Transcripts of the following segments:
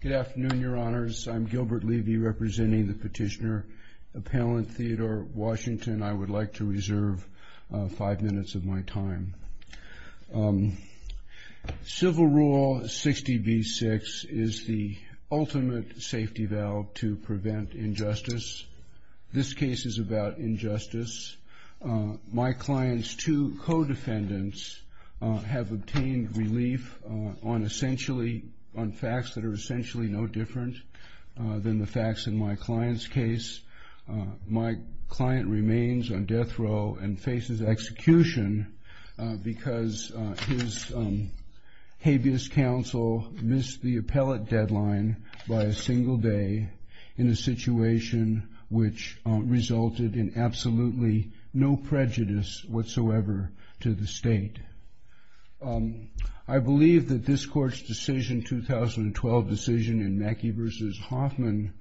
Good afternoon, your honors. I'm Gilbert Levy representing the Petitioner Appellant Theodore Washington. I would like to reserve five minutes of my time. Civil Rule 60b-6 is the ultimate safety valve to prevent injustice. This case is about injustice. My client's two co-defendants have obtained relief on essentially on facts that are essentially no different than the facts in my client's case. My client remains on death row and faces execution because his habeas counsel missed the appellate deadline by a single day in a situation which resulted in absolutely no prejudice whatsoever to the state. I believe that this court's decision, 2012 decision in Mackey v. Hoffman,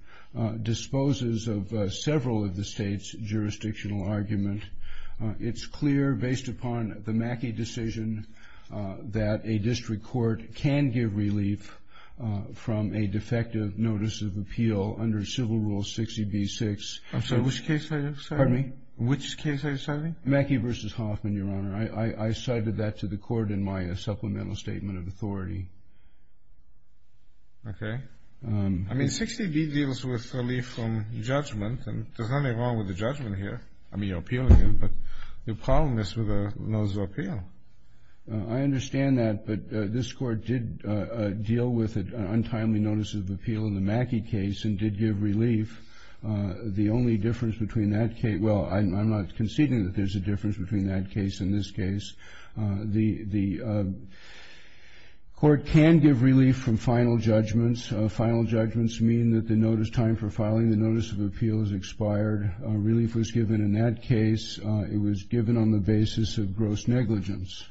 disposes of several of the state's jurisdictional argument. It's clear based upon the Mackey decision that a district court can give relief from a defective notice of appeal under Civil Rule 60b-6. Which case are you citing? Mackey v. Hoffman, your honor. I cited that to the Okay. I mean, 60b deals with relief from judgment, and there's nothing wrong with the judgment here. I mean, you're appealing it, but the problem is with a notice of appeal. I understand that, but this Court did deal with an untimely notice of appeal in the Mackey case and did give relief. The only difference between that case, well, I'm not conceding that there's a difference between that case and this case. The Court can give relief from final judgments. Final judgments mean that the notice, time for filing the notice of appeal, has expired. Relief was given in that case. It was given on the basis of gross negligence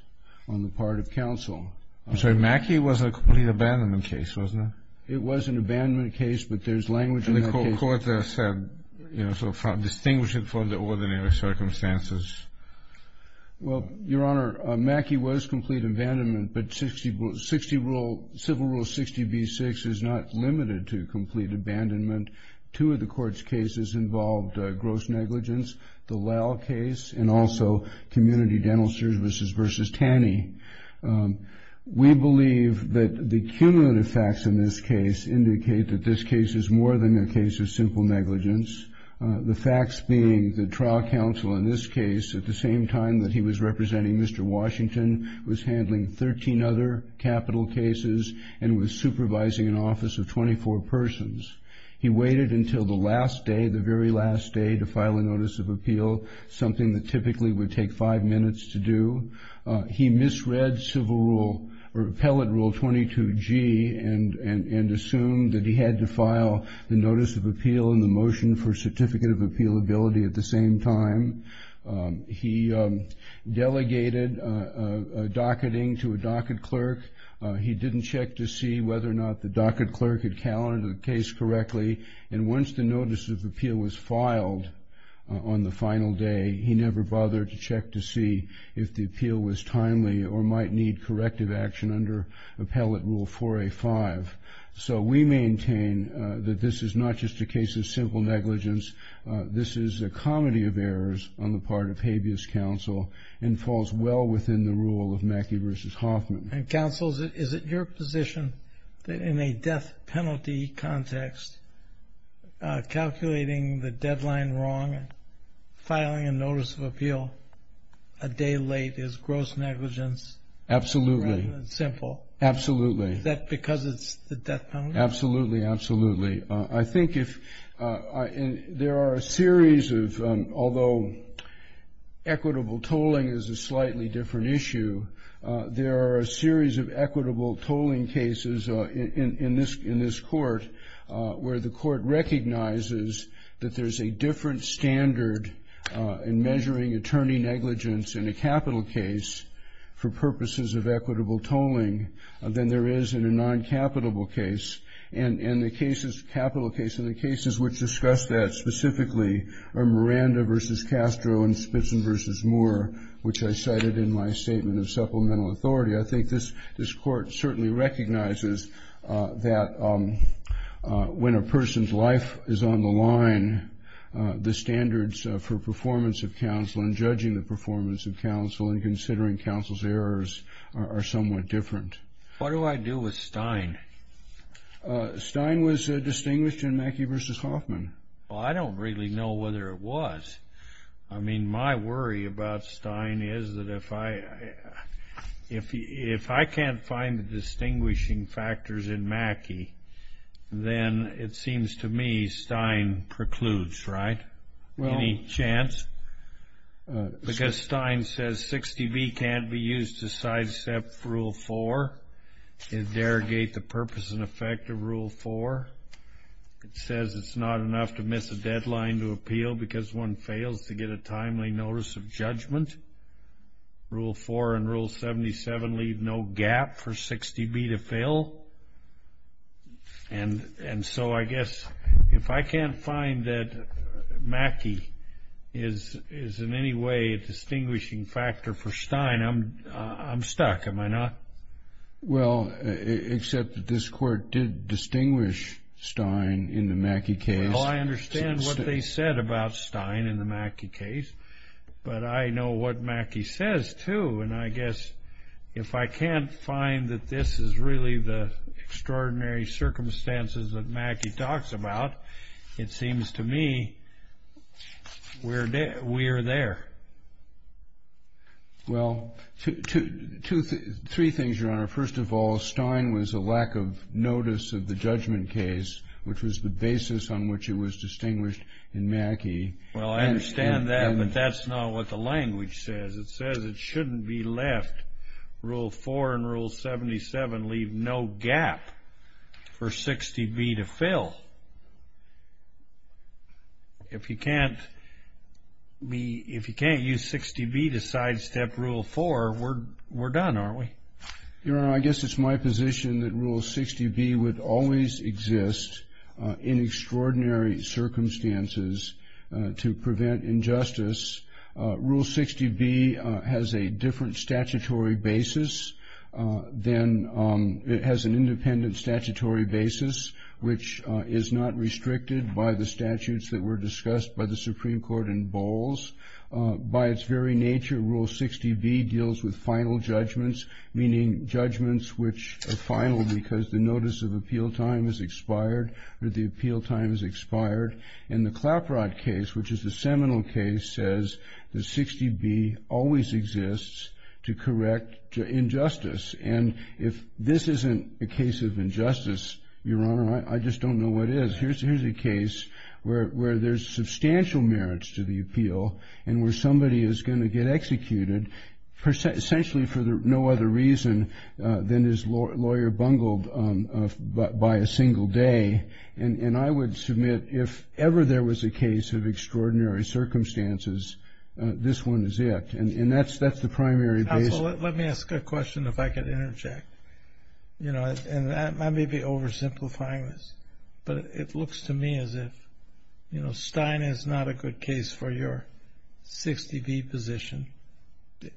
on the part of counsel. I'm sorry, Mackey was a complete abandonment case, wasn't it? It was an abandonment case, but there's language in that case. And the Court said, you know, sort of distinguish it from the ordinary circumstances. Well, Your Honor, Mackey was complete abandonment, but 60 rule, Civil Rule 60b-6 is not limited to complete abandonment. Two of the Court's cases involved gross negligence, the Lowe case, and also Community Dentist versus Taney. We believe that the cumulative facts in this case indicate that this case is more than a case of simple negligence. The facts being that trial counsel in this case, at the same time that he was representing Mr. Washington, was handling 13 other capital cases and was supervising an office of 24 persons. He waited until the last day, the very last day, to file a notice of appeal, something that typically would take five minutes to do. He misread Civil Rule, or Appellate Rule 22g, and assumed that he had to file the notice of appeal and the Certificate of Appealability at the same time. He delegated a docketing to a docket clerk. He didn't check to see whether or not the docket clerk had calendared the case correctly. And once the notice of appeal was filed on the final day, he never bothered to check to see if the appeal was timely or might need corrective action under Appellate Rule 4a.5. So we maintain that this is not just a case of simple negligence. This is a comedy of errors on the part of habeas counsel and falls well within the rule of Mackey versus Hoffman. And counsel, is it your position that in a death penalty context, calculating the deadline wrong and filing a notice of appeal a day late is gross negligence rather than simple? Absolutely. Is that because it's the death penalty? Absolutely. Absolutely. I think if there are a series of, although equitable tolling is a slightly different issue, there are a series of equitable tolling cases in this court where the court recognizes that there's a different standard in measuring attorney negligence in a capital case for purposes of equitable tolling than there is in a non-capitable case. And the cases, capital case, and the cases which discuss that specifically are Miranda v. Castro and Spitzman v. Moore, which I cited in my statement of supplemental authority. I think this court certainly recognizes that when a person's life is on the line, the standards for performance of counsel and judging the performance of counsel and considering counsel's errors are somewhat different. What do I do with Stein? Stein was distinguished in Mackey versus Hoffman. Well, I don't really know whether it was. I mean, my worry about Stein is that if I can't find the distinguishing factors in Mackey, then it seems to me Stein precludes, right? Any chance? Because Stein says 60B can't be used to sidestep Rule 4. It derogates the purpose and effect of Rule 4. It says it's not enough to miss a deadline to appeal because one fails to get a timely notice of judgment. Rule 4 and Rule 77 leave no gap for 60B to fail. And so I guess if I can't find that Mackey is in any way a distinguishing factor for Stein, I'm stuck, am I not? Well, except that this court did distinguish Stein in the Mackey case. Well, I understand what they said about Stein in the Mackey case, but I know what Mackey says, too. And I guess if I can't find that this is really the extraordinary circumstances that Mackey talks about, it seems to me we are there. Well, three things, Your Honor. First of all, Stein was a lack of notice of the judgment case, which was the basis on which it was distinguished in Mackey. Well, I understand that, but that's not what the language says. It says it shouldn't be left. Rule 4 and Rule 77 leave no gap for 60B to fail. If you can't use 60B to sidestep Rule 4, we're done, aren't we? Your Honor, I guess it's my position that Rule 60B would always exist in extraordinary circumstances to prevent injustice. Rule 60B has a different statutory basis than it has an independent statutory basis, which is not restricted by the statutes that were discussed by the Supreme Court in Bowles. By its very nature, Rule 60B deals with final judgments, meaning judgments which are final because the notice of appeal time has expired or the appeal time has expired. And the Claprod case, which is the seminal case, says that 60B always exists to correct injustice. And if this isn't a case of injustice, Your Honor, I just don't know what is. Here's a case where there's substantial merits to the appeal and where somebody is going to get executed essentially for no other reason than is lawyer bungled by a single day. And I would submit if ever there was a case of extraordinary circumstances, this one is it. And that's the primary basis. Let me ask a question if I could interject. I may be oversimplifying this, but it looks to me as if Stein is not a good case for your 60B position.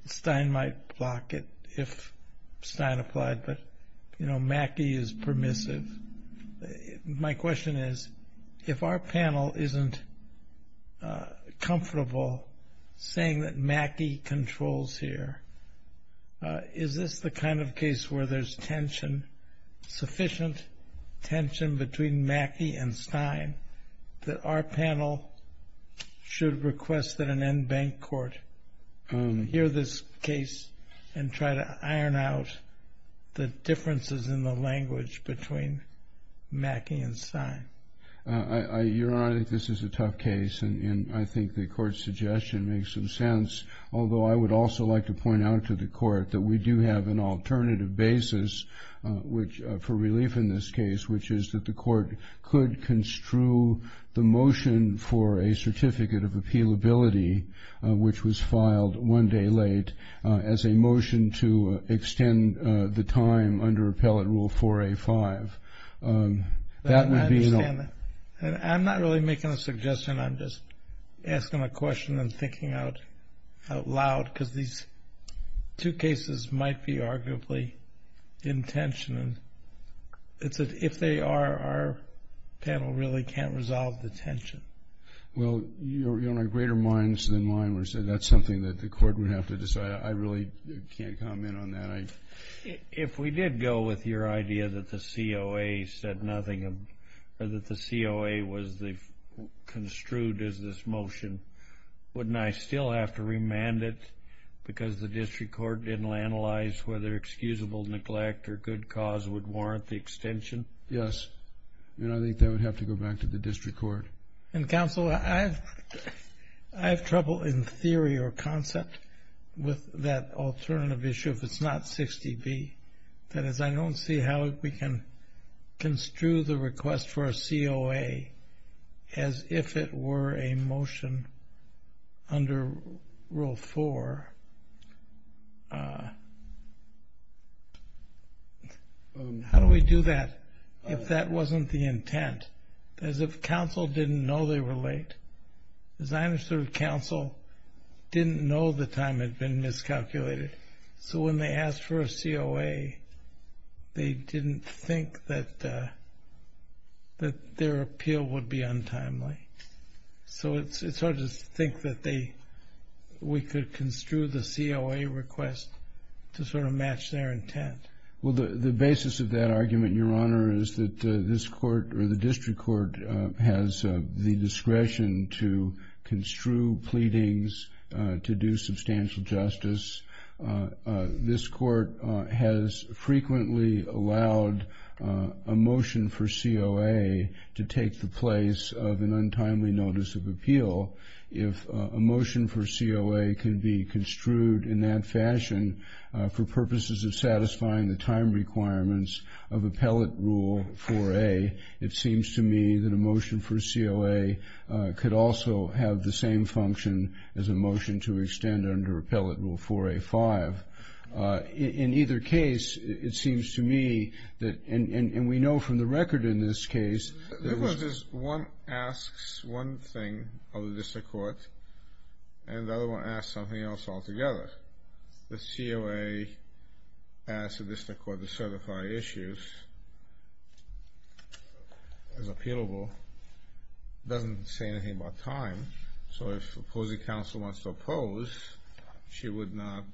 Stein might block it if Stein applied, but Mackey is permissive. My question is, if our panel isn't comfortable saying that Mackey controls here, is this the kind of case where there's sufficient tension between Mackey and Stein that our panel should request that an in-bank court hear this case and try to iron out the differences in the language between Mackey and Stein? Your Honor, I think this is a tough case, and I think the court's suggestion makes some sense, although I would also like to point out to the court that we do have an alternative basis for relief in this case, which is that the court could construe the motion for a certificate of appealability, which was filed one day late, as a motion to extend the time under appellate rule 4A5. I'm not really making a suggestion. I'm just asking a question and thinking out loud, because these two cases might be arguably in tension, and if they are, our panel really can't resolve the tension. Well, Your Honor, greater minds than mine would say that's something that the court would have to decide. I really can't comment on that. If we did go with your idea that the COA said nothing, or that the COA was the construed as this motion, wouldn't I still have to remand it because the district court didn't analyze whether excusable neglect or good cause would warrant the extension? Yes, and I think that would have to go back to the district court. And, Counselor, I have trouble in theory or concept with that alternative issue if it's not 60B. That is, I don't see how we can construe the request for a COA as if it were a motion under Rule 4. How do we do that if that wasn't the intent? As if counsel didn't know they were late? As I understood it, counsel didn't know the time had been miscalculated. So, when they asked for a COA, they didn't think that their appeal would be untimely. So, it's hard to think that we could construe the COA request to sort of match their intent. Well, the basis of that argument, Your Honor, is that this court, or the district court, has the discretion to construe pleadings, to do substantial justice. This court has frequently allowed a motion for COA to take the place of an untimely notice of appeal. If a motion for COA can be construed in that fashion for purposes of satisfying the time requirements of Appellate Rule 4A, it seems to me that a motion for COA could also have the same function as a motion to extend under Appellate Rule 4A-5. In either case, it seems to me that, and we know from the record in this case, that it was just one asks one thing of the district court, and the other one asks something else altogether. The COA asks the district court to certify as appealable. It doesn't say anything about time. So, if opposing counsel wants to oppose, she would not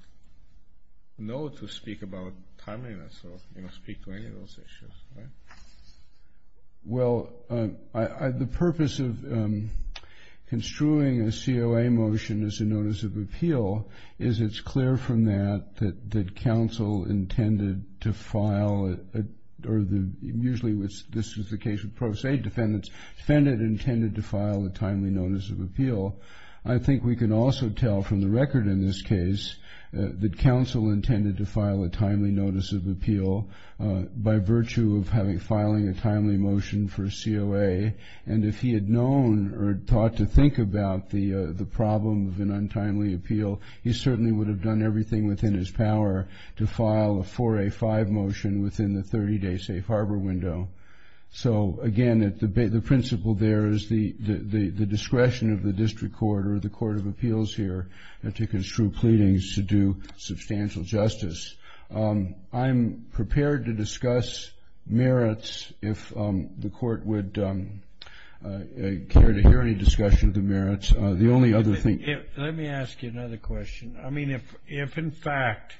know to speak about timeliness or speak to any of those issues. Well, the purpose of construing a COA motion as a notice of appeal is it's clear from that that counsel intended to file, or usually this is the case with Pro Se defendants, intended to file a timely notice of appeal. I think we can also tell from the record in this case that counsel intended to file a timely notice of appeal by virtue of filing a timely motion for COA, and if he had known or thought to think about the problem of an untimely appeal, he certainly would have done everything within his power to file a 4A-5 motion within the 30-day safe harbor window. So, again, the principle there is the discretion of the district court or the court of appeals here to construe pleadings to do substantial justice. I'm prepared to discuss merits if the court would care to hear any discussion of the merits. The only other thing... Let me ask you another question. I mean, if in fact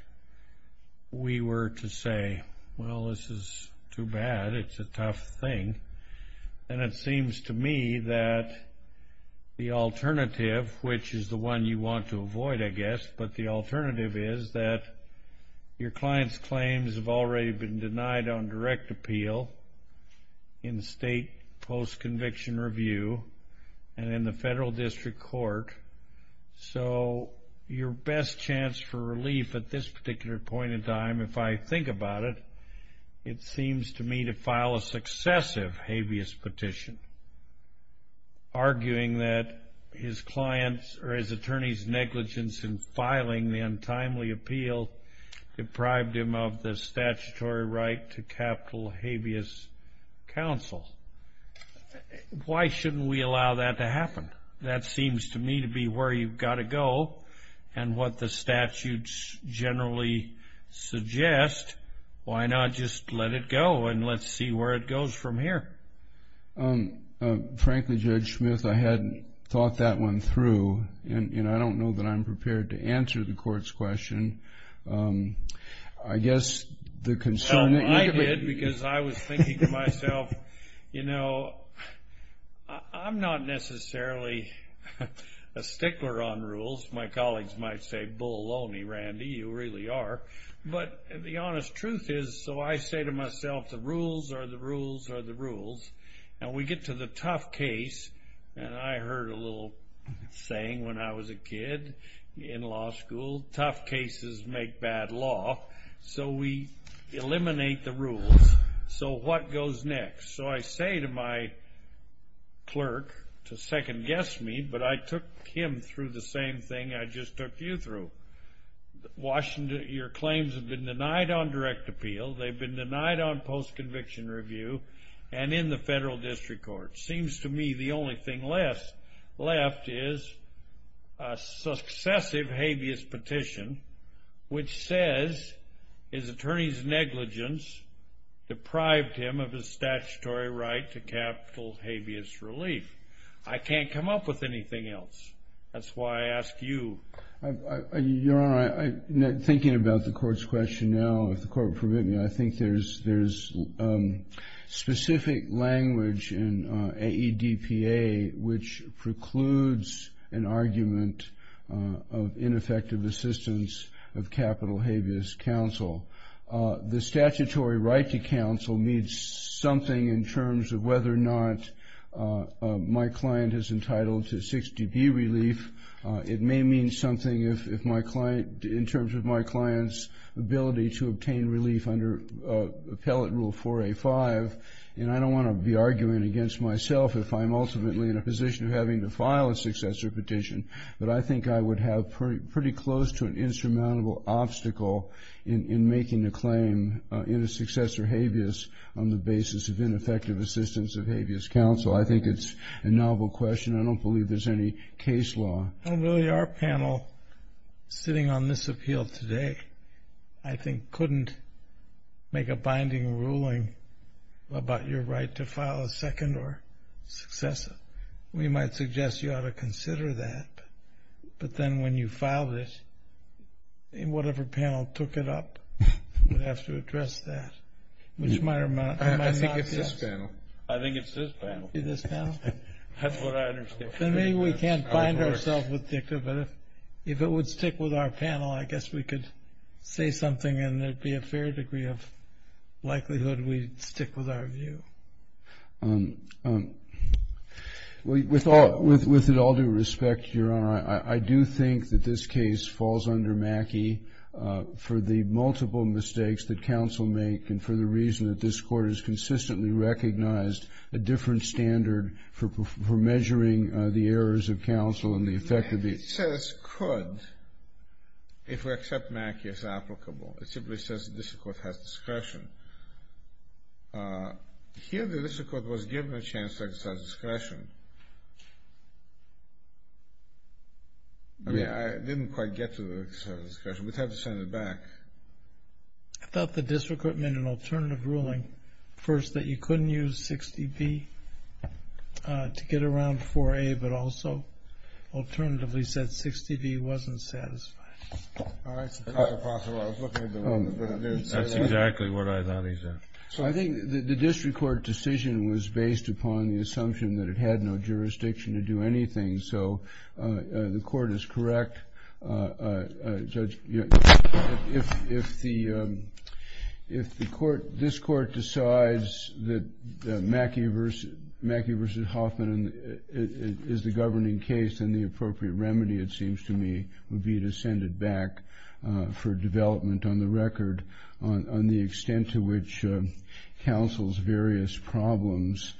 we were to say, well, this is too bad, it's a tough thing, then it seems to me that the alternative, which is the one you want to avoid, I guess, but the alternative is that your client's claims have already been denied on direct appeal in state post-conviction review and in the federal district court, so your best chance for relief at this particular point in time, if I think about it, it seems to me to file a successive habeas petition, arguing that his client's or his attorney's negligence in filing the untimely appeal deprived him of the statutory right to capital habeas counsel. Why shouldn't we allow that to happen? That seems to me to be where you've got to go, and what the statutes generally suggest, why not just let it go and let's see where it goes from here? Frankly, Judge Smith, I hadn't thought that one through, and I don't know that I'm prepared to answer the court's question. I guess the concern that you could... I was thinking to myself, you know, I'm not necessarily a stickler on rules. My colleagues might say, bull-loney, Randy, you really are, but the honest truth is, so I say to myself, the rules are the rules are the rules, and we get to the tough case, and I heard a little saying when I was a kid in law school, tough cases make bad law, so we eliminate the rules so what goes next? So I say to my clerk, to second-guess me, but I took him through the same thing I just took you through. Your claims have been denied on direct appeal, they've been denied on post-conviction review, and in the federal district court. Seems to me the only thing left is a successive habeas petition, which says his attorney's negligence deprived him of his statutory right to capital habeas relief. I can't come up with anything else. That's why I ask you. Your Honor, thinking about the court's question now, if the court will permit me, I think there's specific language in AEDPA which precludes an argument of ineffective assistance of capital habeas counsel. The statutory right to counsel means something in terms of whether or not my client is entitled to 6dB relief. It may mean something in terms of my client's ability to obtain relief under Appellate Rule 4A5, and I don't want to be arguing against myself if I'm ultimately in a position of having to file a successor petition, but I think I would have pretty close to an insurmountable obstacle in making a claim in a successor habeas on the basis of ineffective assistance of habeas counsel. I think it's a novel question. I don't believe there's any case law. I don't believe our panel, sitting on this appeal today, I think couldn't make a binding ruling about your right to file a second or successive. We might suggest you ought to consider that, but then when you filed it, whatever panel took it up would have to address that, which might or might not be us. I think it's this panel. It's this panel? That's what I understood. Then maybe we can't bind ourselves with DICTA, but if it would stick with our panel, I guess we could say something and there'd be a fair degree of likelihood we'd stick with our view. With it all due respect, Your Honor, I do think that this case falls under MACCIE for the multiple mistakes that counsel make and for the reason that this Court has consistently recognized a different standard for measuring the errors of counsel and the effect of the It says could, if we accept MACCIE as applicable. It simply says that this Court has discretion. Here the district court was given a chance to exercise discretion. I mean, I didn't quite get to the discretion. We'd have to send it back. I thought the district court made an alternative ruling, first, that you couldn't use 60B to get around 4A, but also alternatively said 60B wasn't satisfied. That's exactly what I thought he said. I think the district court decision was based upon the assumption that it had no jurisdiction to do anything, so the Court is correct. If this Court decides that MACCIE v. Hoffman is the governing case, then the appropriate remedy, it seems to me, would be to send it back for development on the record on the counsel's various problems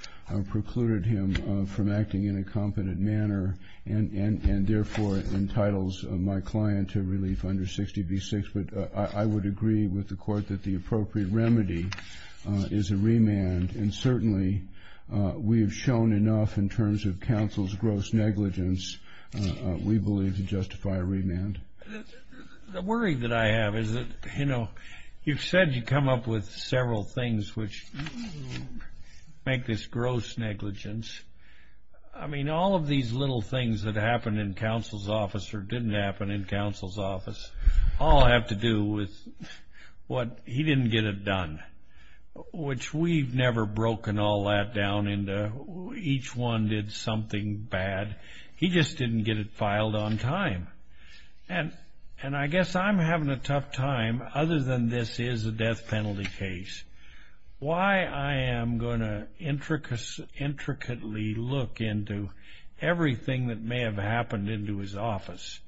precluded him from acting in a competent manner and, therefore, entitles my client to relief under 60B-6, but I would agree with the Court that the appropriate remedy is a remand, and certainly we have shown enough in terms of counsel's gross negligence, we believe, to justify a remand. The worry that I have is that, you know, you've said you come up with several things which make this gross negligence. I mean, all of these little things that happened in counsel's office or didn't happen in counsel's office all have to do with what he didn't get it done, which we've never broken all that down into each one did something bad. He just didn't get it filed on time, and I guess I'm having a tough time, other than this is a death penalty case, why I am going to intricately look into everything that may have happened into his office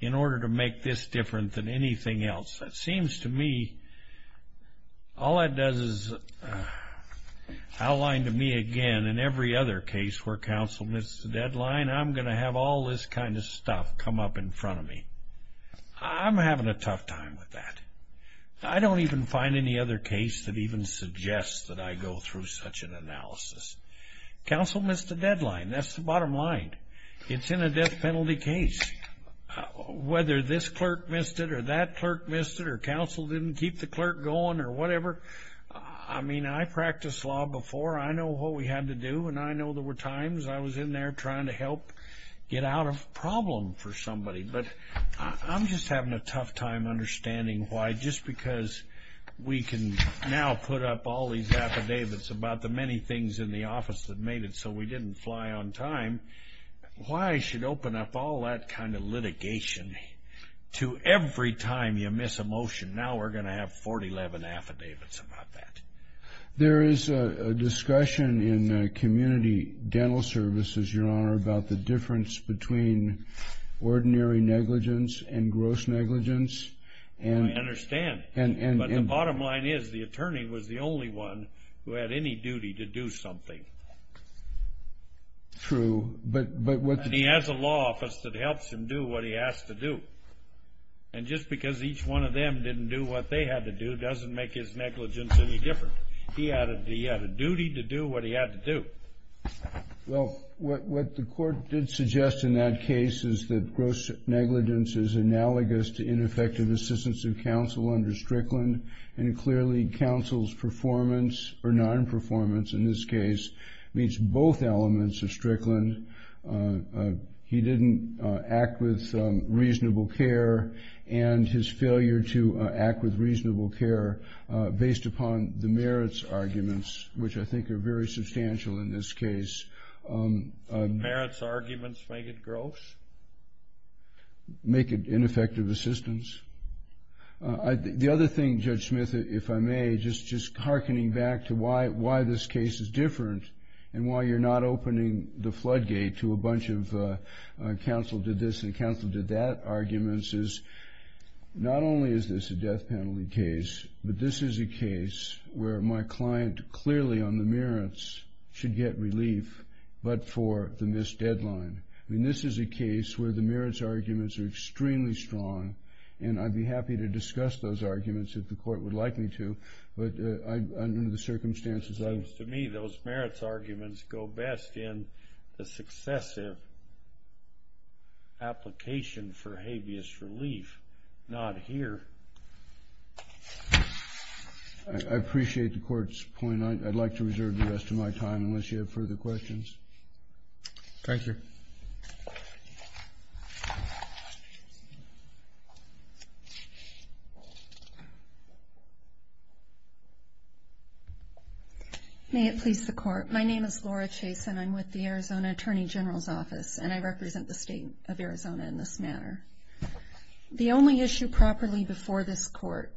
in order to make this different than anything else. It seems to me all that does is outline to me, again, in every other case where counsel missed the deadline, I'm going to have all this kind of stuff come up in front of me. I'm having a tough time with that. I don't even find any other case that even suggests that I go through such an analysis. Counsel missed the deadline. That's the bottom line. It's in a death penalty case. Whether this clerk missed it or that clerk missed it or counsel didn't keep the clerk going or whatever, I mean, I practiced law before. I know what we had to do, and I know there were times I was in there trying to help get out of a problem for somebody, but I'm just having a tough time understanding why, just because we can now put up all these affidavits about the many things in the office that made it so we didn't fly on time, why I should open up all that kind of litigation to every time you miss a motion, now we're going to have 411 affidavits about that. There is a discussion in community dental services, Your Honor, about the difference between ordinary negligence and gross negligence. I understand, but the bottom line is the attorney was the only one who had any duty to do something. True, but what the... He has a law office that helps him do what he has to do, and just because each one of you is negligent doesn't make his negligence any different. He had a duty to do what he had to do. Well, what the court did suggest in that case is that gross negligence is analogous to ineffective assistance of counsel under Strickland, and clearly counsel's performance, or non-performance in this case, means both elements of Strickland. He didn't act with reasonable care, and his performance is based upon the merits arguments, which I think are very substantial in this case. Merits arguments make it gross? Make it ineffective assistance. The other thing, Judge Smith, if I may, just hearkening back to why this case is different, and why you're not opening the floodgate to a bunch of counsel did this and counsel did that arguments, is not only is this a death penalty case, but this is a case where my client clearly on the merits should get relief, but for the missed deadline. I mean, this is a case where the merits arguments are extremely strong, and I'd be happy to discuss those arguments if the court would like me to, but under the circumstances I... It seems to me those merits arguments go best in the successive application for habeas relief, not here. I appreciate the court's point. I'd like to reserve the rest of my time unless you have further questions. Thank you. May it please the court. My name is Laura Chase, and I'm with the Arizona Attorney General's Office, and I represent the state of Arizona in this manner. The only issue properly before this court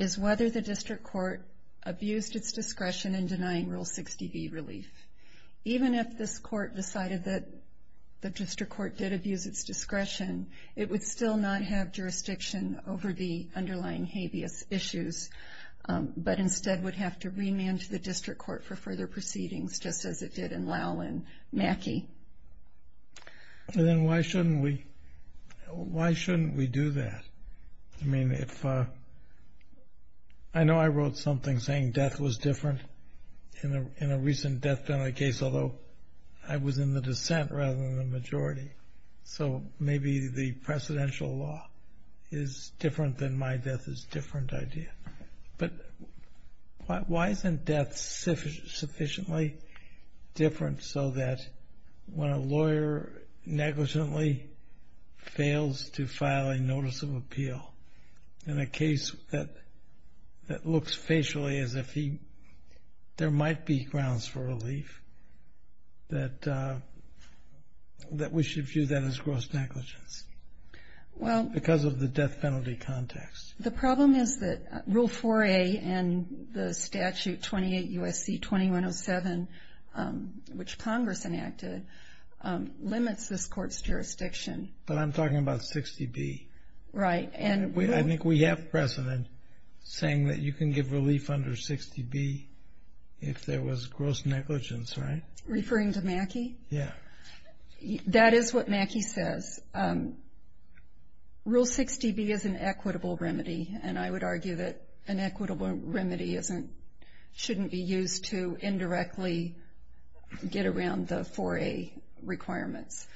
is whether the district court abused its discretion in denying Rule 60B relief. Even if this court decided that the district court did abuse its discretion, it would still not have jurisdiction over the underlying habeas issues, but instead would have to remand the district court for further proceedings, just as it did in Lowell and Mackey. Then why shouldn't we do that? I mean, if... I know I wrote something saying death was different in a recent death penalty case, although I was in the dissent rather than the majority, so maybe the precedential law is different than my death is different idea. But why isn't death sufficiently different so that when a lawyer negligently fails to file a notice of appeal in a case that looks facially as if there might be grounds for relief, that we should view that as gross negligence because of the death penalty context? The problem is that Rule 4A and the statute 28 U.S.C. 2107, which Congress enacted, limits this court's jurisdiction. But I'm talking about 60B. Right. And I think we have precedent saying that you can give relief under 60B if there was gross negligence, right? Referring to Mackey? Yeah. That is what Mackey says. Rule 60B is an equitable remedy, and I would argue that an equitable remedy shouldn't be used to indirectly get around the 4A requirements.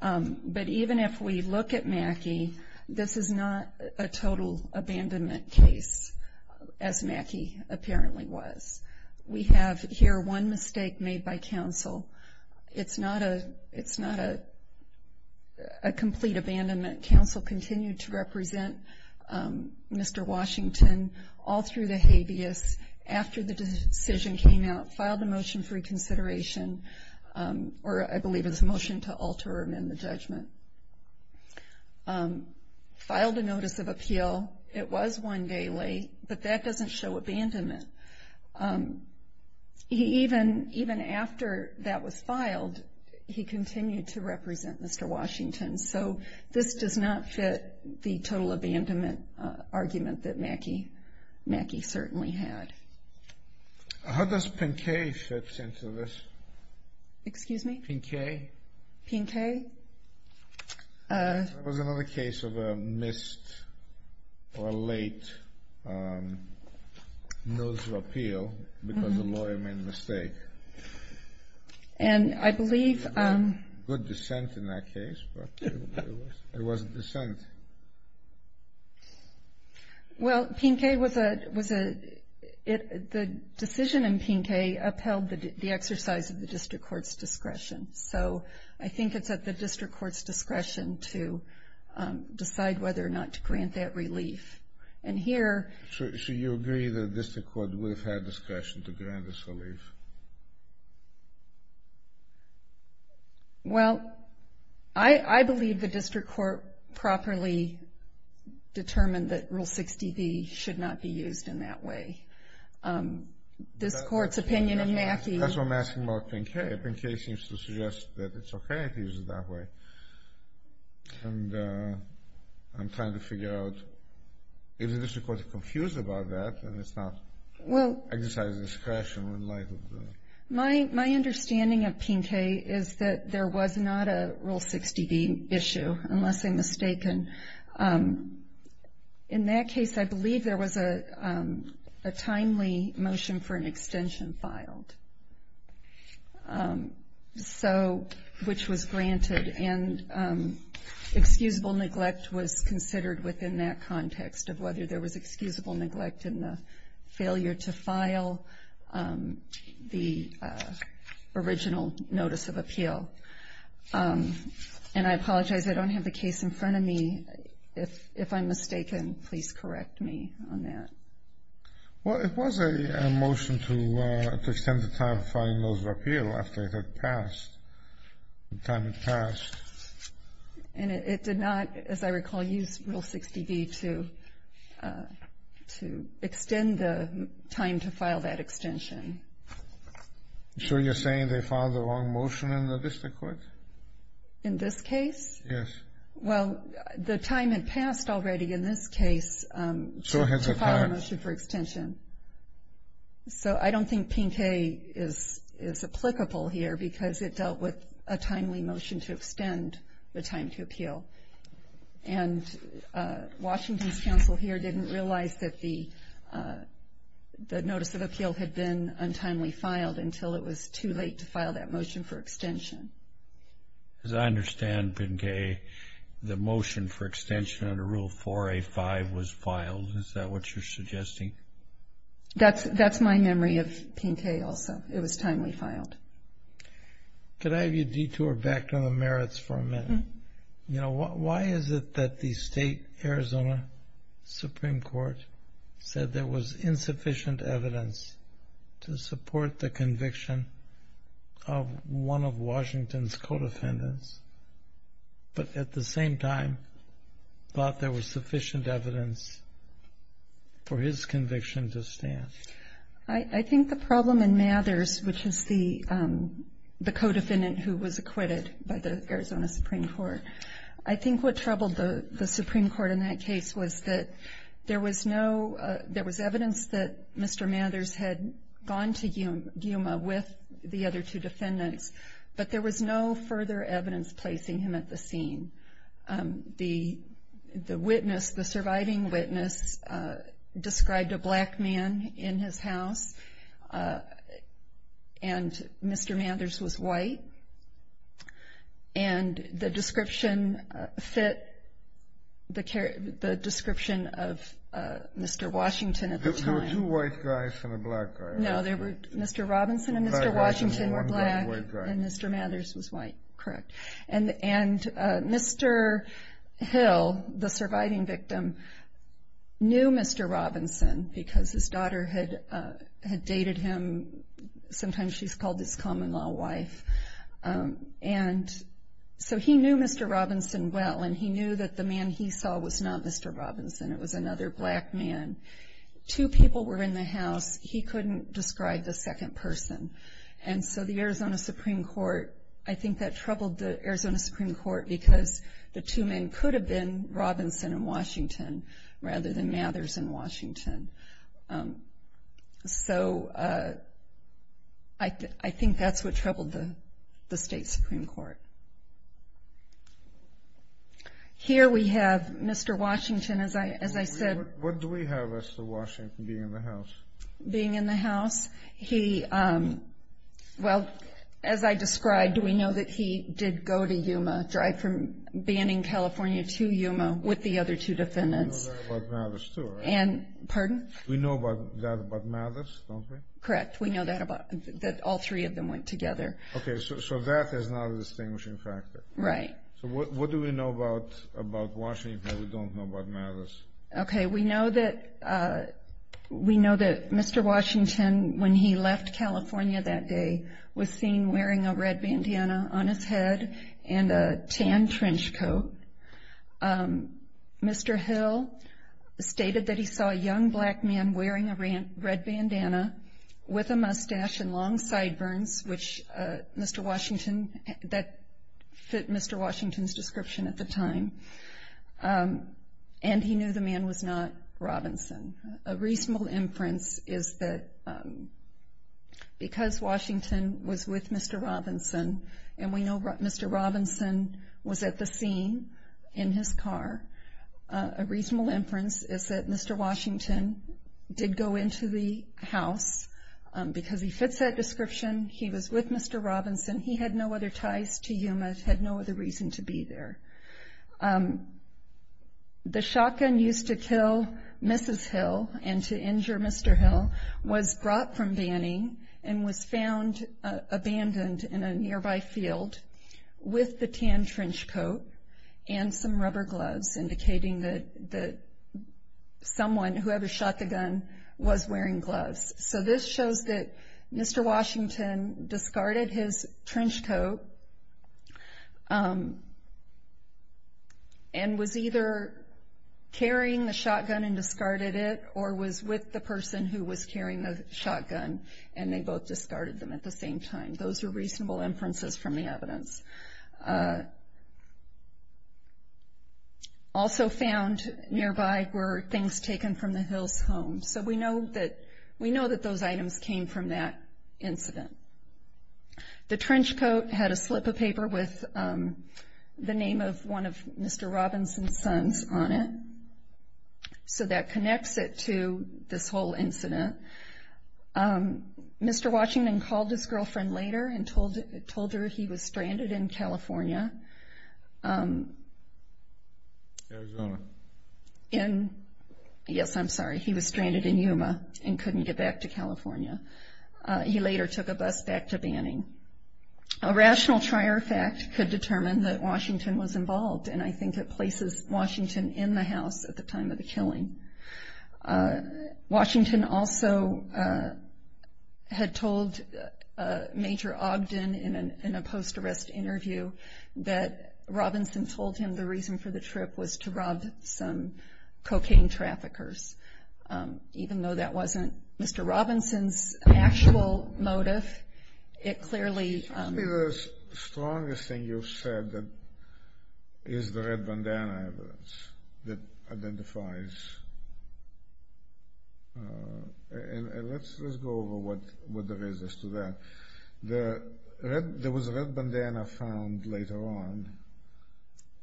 But even if we look at Mackey, this is not a total abandonment case, as Mackey apparently was. We have here one mistake made by counsel. It's not a complete abandonment. Counsel continued to represent Mr. Washington all through the habeas. After the decision came out, filed a motion for reconsideration, or I believe it's a motion to alter or amend the judgment. Filed a notice of appeal. It was one day late, but that doesn't show abandonment. Even after that was filed, he continued to represent Mr. Washington. So this does not fit the total abandonment argument that Mackey certainly had. How does Pinquet fit into this? Excuse me? Pinquet? Pinquet? That was another case of a missed or a late notice of appeal because the lawyer made a mistake. And I believe... Good dissent in that case, but it wasn't dissent. Well, Pinquet was a, it, the decision in Pinquet upheld the exercise of the district court's discretion. So I think it's at the district court's discretion to decide whether or not to grant that relief. And here... So you agree that the district court would have had discretion to grant this relief? Well, I believe the district court properly determined that Rule 60B should not be used in that way. This court's opinion in Mackey... That's what I'm asking about Pinquet. Pinquet seems to suggest that it's okay to use it that way. And I'm trying to figure out if the district court is confused about that and it's not exercised discretion in light of the... My understanding of Pinquet is that there was not a Rule 60B issue, unless I'm mistaken. In that case, I believe there was a timely motion for an extension filed. So, which was granted and excusable neglect was considered within that context of whether there was excusable neglect in the failure to file the original notice of appeal. And I apologize, I don't have the case in front of me. If I'm mistaken, please correct me on that. Well, it was a motion to extend the time of filing notice of appeal after it had passed. The time had passed. And it did not, as I recall, use Rule 60B to extend the time to file that extension. So you're saying they filed the wrong motion in the district court? In this case? Yes. Well, the time had passed already in this case... To file a motion for extension. So I don't think Pinquet is applicable here because it dealt with a timely motion to extend the time to appeal. And Washington's counsel here didn't realize that the notice of appeal had been untimely filed until it was too late to file that motion for extension. As I understand, Pinquet, the motion for extension under Rule 4A-5 was filed. Is that what you're suggesting? That's my memory of Pinquet also. It was timely filed. Could I have you detour back to the merits for a minute? Why is it that the state Arizona Supreme Court said there was insufficient evidence to support the conviction of one of Washington's co-defendants, but at the same time thought there was sufficient evidence for his conviction to stand? I think the problem in Mathers, which is the co-defendant who was acquitted by the Arizona Supreme Court, I think what troubled the Supreme Court in that case was that there was evidence that Mr. Mathers had gone to Yuma with the other two defendants, but there was no further evidence placing him at the scene. The witness, the surviving witness, described a black man in his house, and Mr. Mathers was white. And the description fit the description of Mr. Washington at the time. There were two white guys and a black guy. No, Mr. Robinson and Mr. Washington were black, and Mr. Mathers was white. Correct. And Mr. Hill, the surviving victim, knew Mr. Robinson because his daughter had dated him. Sometimes she's called his common-law wife. And so he knew Mr. Robinson well, and he knew that the man he saw was not Mr. Robinson. It was another black man. Two people were in the house. He couldn't describe the second person. And so the Arizona Supreme Court, I think that troubled the Arizona Supreme Court because the two men could have been Robinson and Washington rather than Mathers and Washington. So I think that's what troubled the state Supreme Court. Here we have Mr. Washington, as I said. What do we have as to Washington being in the house? Being in the house, he, well, as I described, we know that he did go to Yuma, drive from Banning, California to Yuma with the other two defendants. We know that about Mathers, too, right? Pardon? We know that about Mathers, don't we? Correct. We know that all three of them went together. Okay, so that is not a distinguishing factor. Right. So what do we know about Washington that we don't know about Mathers? Okay. We know that Mr. Washington, when he left California that day, was seen wearing a red bandana on his head and a tan trench coat. Mr. Hill stated that he saw a young black man wearing a red bandana with a mustache and long sideburns, which Mr. Washington, that fit Mr. Washington's description at the time, and he knew the man was not Robinson. A reasonable inference is that because Washington was with Mr. Robinson, and we know Mr. Robinson was at the scene in his car, a reasonable inference is that Mr. Washington did go into the house because he fits that description. He was with Mr. Robinson. He had no other ties to Yuma, had no other reason to be there. The shotgun used to kill Mrs. Hill and to injure Mr. Hill was brought from Banning and was found abandoned in a nearby field with the tan trench coat and some rubber gloves indicating that someone, whoever shot the gun, was wearing gloves. This shows that Mr. Washington discarded his trench coat and was either carrying the shotgun and discarded it or was with the person who was carrying the shotgun and they both discarded them at the same time. Those are reasonable inferences from the evidence. Also found nearby were things taken from the Hill's home. We know that those items came from that incident. The trench coat had a slip of paper with the name of one of Mr. Robinson's sons on it. That connects it to this whole incident. Mr. Washington called his girlfriend later and told her he was stranded in California. Arizona. Yes, I'm sorry, he was stranded in Yuma and couldn't get back to California. He later took a bus back to Banning. A rational trier fact could determine that Washington was involved and I think it places Washington in the house at the time of the killing. Washington also had told Major Ogden in a post-arrest interview that Robinson told him the reason for the trip was to rob some cocaine traffickers. Even though that wasn't Mr. Robinson's actual motive, it clearly... Tell me the strongest thing you've said that is the red bandana evidence that identifies... Let's go over what there is as to that. There was a red bandana found later on...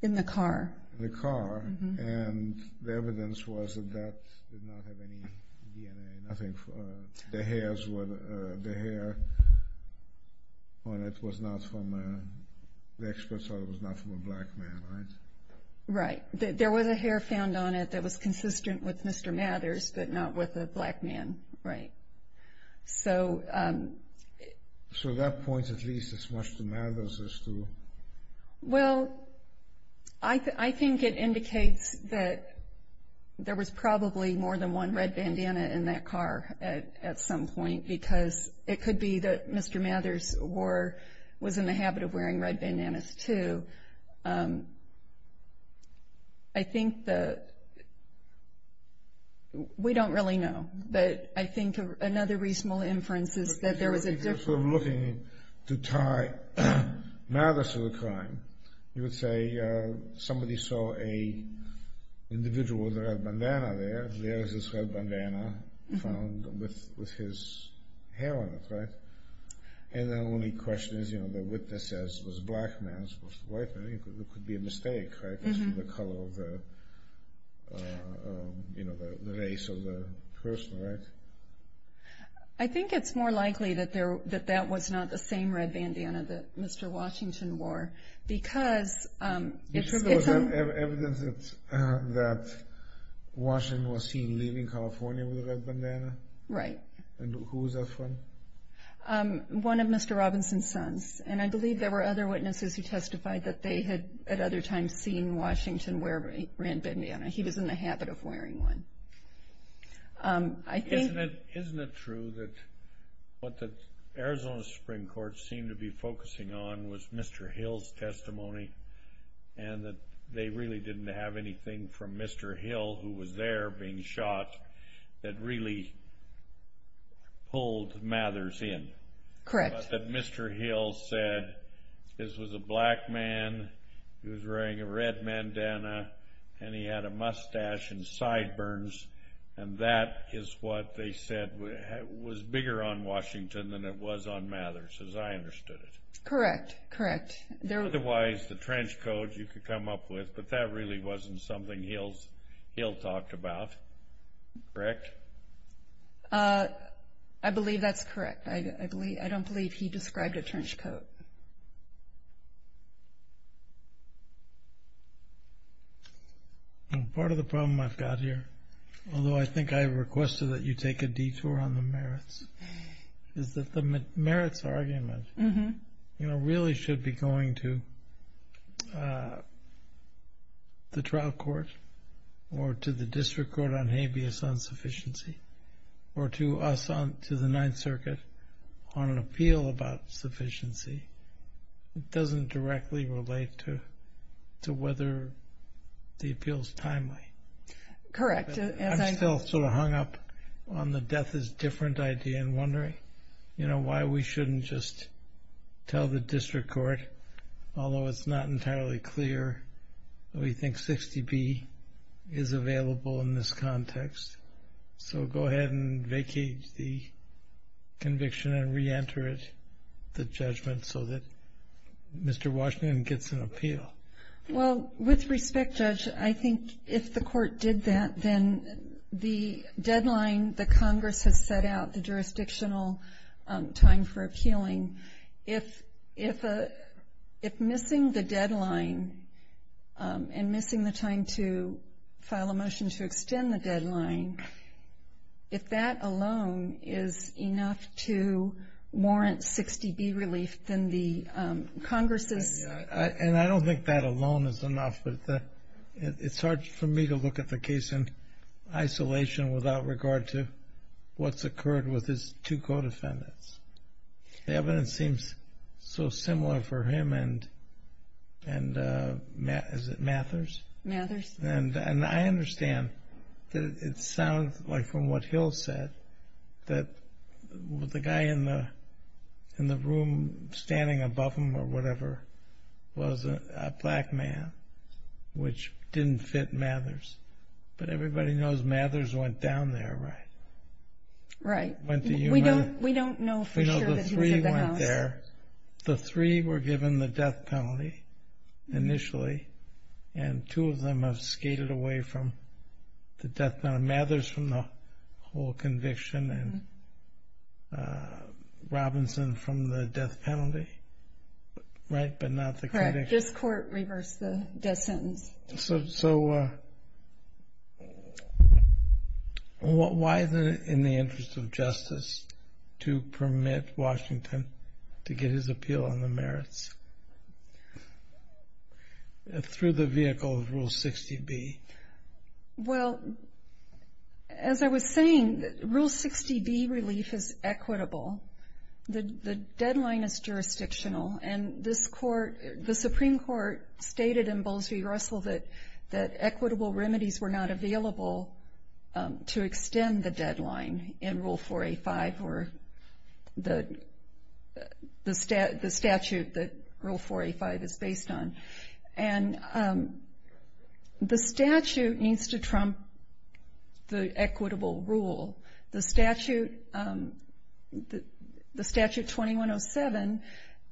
In the car. In the car. And the evidence was that that did not have any DNA, nothing. The hair on it was not from a... The expert said it was not from a black man, right? Right. There was a hair found on it that was consistent with Mr. Mathers, but not with a black man, right. So that points at least as much to Mathers as to... Well, I think it indicates that there was probably more than one red bandana in that car at some point because it could be that Mr. Mathers was in the habit of wearing red bandanas too. I think that... We don't really know, but I think another reasonable inference is that there was a... If we're looking to tie Mathers to the crime, you would say somebody saw an individual with a red bandana there, there is this red bandana found with his hair on it, right? And the only question is, you know, the witness says it was a black man, it was a white man, it could be a mistake, right? Because of the color of the... You know, the race of the person, right? I think it's more likely that that was not the same red bandana that Mr. Washington wore. Because... You sure there was no evidence that Washington was seen leaving California with a red bandana? Right. And who was that from? One of Mr. Robinson's sons. And I believe there were other witnesses who testified that they had at other times seen Washington wear a red bandana. He was in the habit of wearing one. I think... Isn't it true that what the Arizona Supreme Court seemed to be focusing on was Mr. Hill's testimony and that they really didn't have anything from Mr. Hill, who was there being shot, that really pulled Mathers in? Correct. That Mr. Hill said this was a black man, he was wearing a red bandana, and he had a mustache and sideburns, and that is what they said was bigger on Washington than it was on Mathers, as I understood it. Correct, correct. Otherwise, the trench coat you could come up with, but that really wasn't something Hill talked about, correct? I believe that's correct. I don't believe he described a trench coat. Part of the problem I've got here, although I think I requested that you take a detour on the merits, is that the merits argument really should be going to the trial court or to the district court on habeas insufficiency, or to us, to the Ninth Circuit, on an appeal about sufficiency. It doesn't directly relate to whether the appeal is timely. Correct. I'm still sort of hung up on the death is different idea and wondering, you know, why we shouldn't just tell the district court, although it's not entirely clear, that we think 60B is available in this context. So go ahead and vacate the conviction and reenter it, the judgment, so that Mr. Washington gets an appeal. Well, with respect, Judge, I think if the court did that, then the deadline that Congress has set out, the jurisdictional time for appealing, if missing the deadline and missing the time to file a motion to extend the deadline, if that alone is enough to warrant 60B relief, then the Congress's ---- And I don't think that alone is enough, but it's hard for me to look at the case in isolation without regard to what's occurred with his two co-defendants. The evidence seems so similar for him and, is it Mathers? Mathers. And I understand that it sounds like, from what Hill said, that the guy in the room standing above him or whatever was a black man, which didn't fit Mathers. But everybody knows Mathers went down there, right? Right. Went to Humana. We don't know for sure that he was in the house. We know the three went there. The three were given the death penalty initially, and two of them have skated away from the death penalty. Mathers from the whole conviction and Robinson from the death penalty, right, but not the conviction. Correct. This court reversed the death sentence. So why, in the interest of justice, to permit Washington to get his appeal on the merits? Through the vehicle of Rule 60B. Well, as I was saying, Rule 60B relief is equitable. The deadline is jurisdictional, and this court, the Supreme Court stated in Bowles v. Russell that equitable remedies were not available to extend the deadline in Rule 4A5 or the statute that Rule 4A5 is based on. And the statute needs to trump the equitable rule. The statute 2107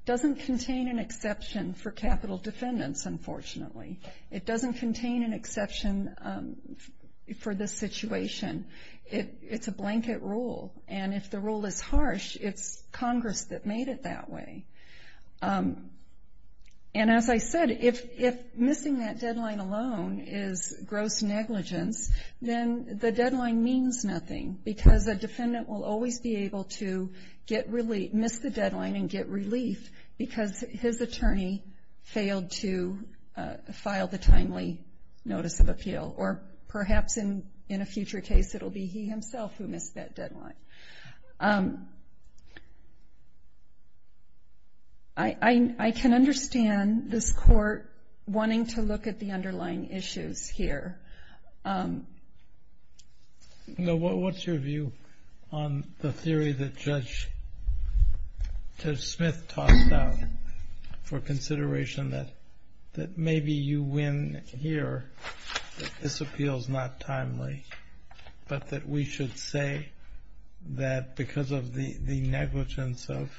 doesn't contain an exception for capital defendants, unfortunately. It doesn't contain an exception for this situation. It's a blanket rule, and if the rule is harsh, it's Congress that made it that way. And as I said, if missing that deadline alone is gross negligence, then the deadline means nothing, because a defendant will always be able to miss the deadline and get relief because his attorney failed to file the timely notice of appeal. Or perhaps in a future case, it will be he himself who missed that deadline. I can understand this court wanting to look at the underlying issues here. What's your view on the theory that Judge Smith tossed out for consideration that maybe you win here, that this appeal is not timely, but that we should say that because of the negligence of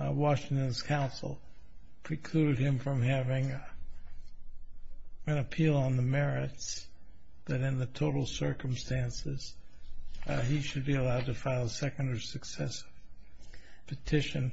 Washington's counsel, precluded him from having an appeal on the merits, that in the total circumstances, he should be allowed to file a second or successive petition,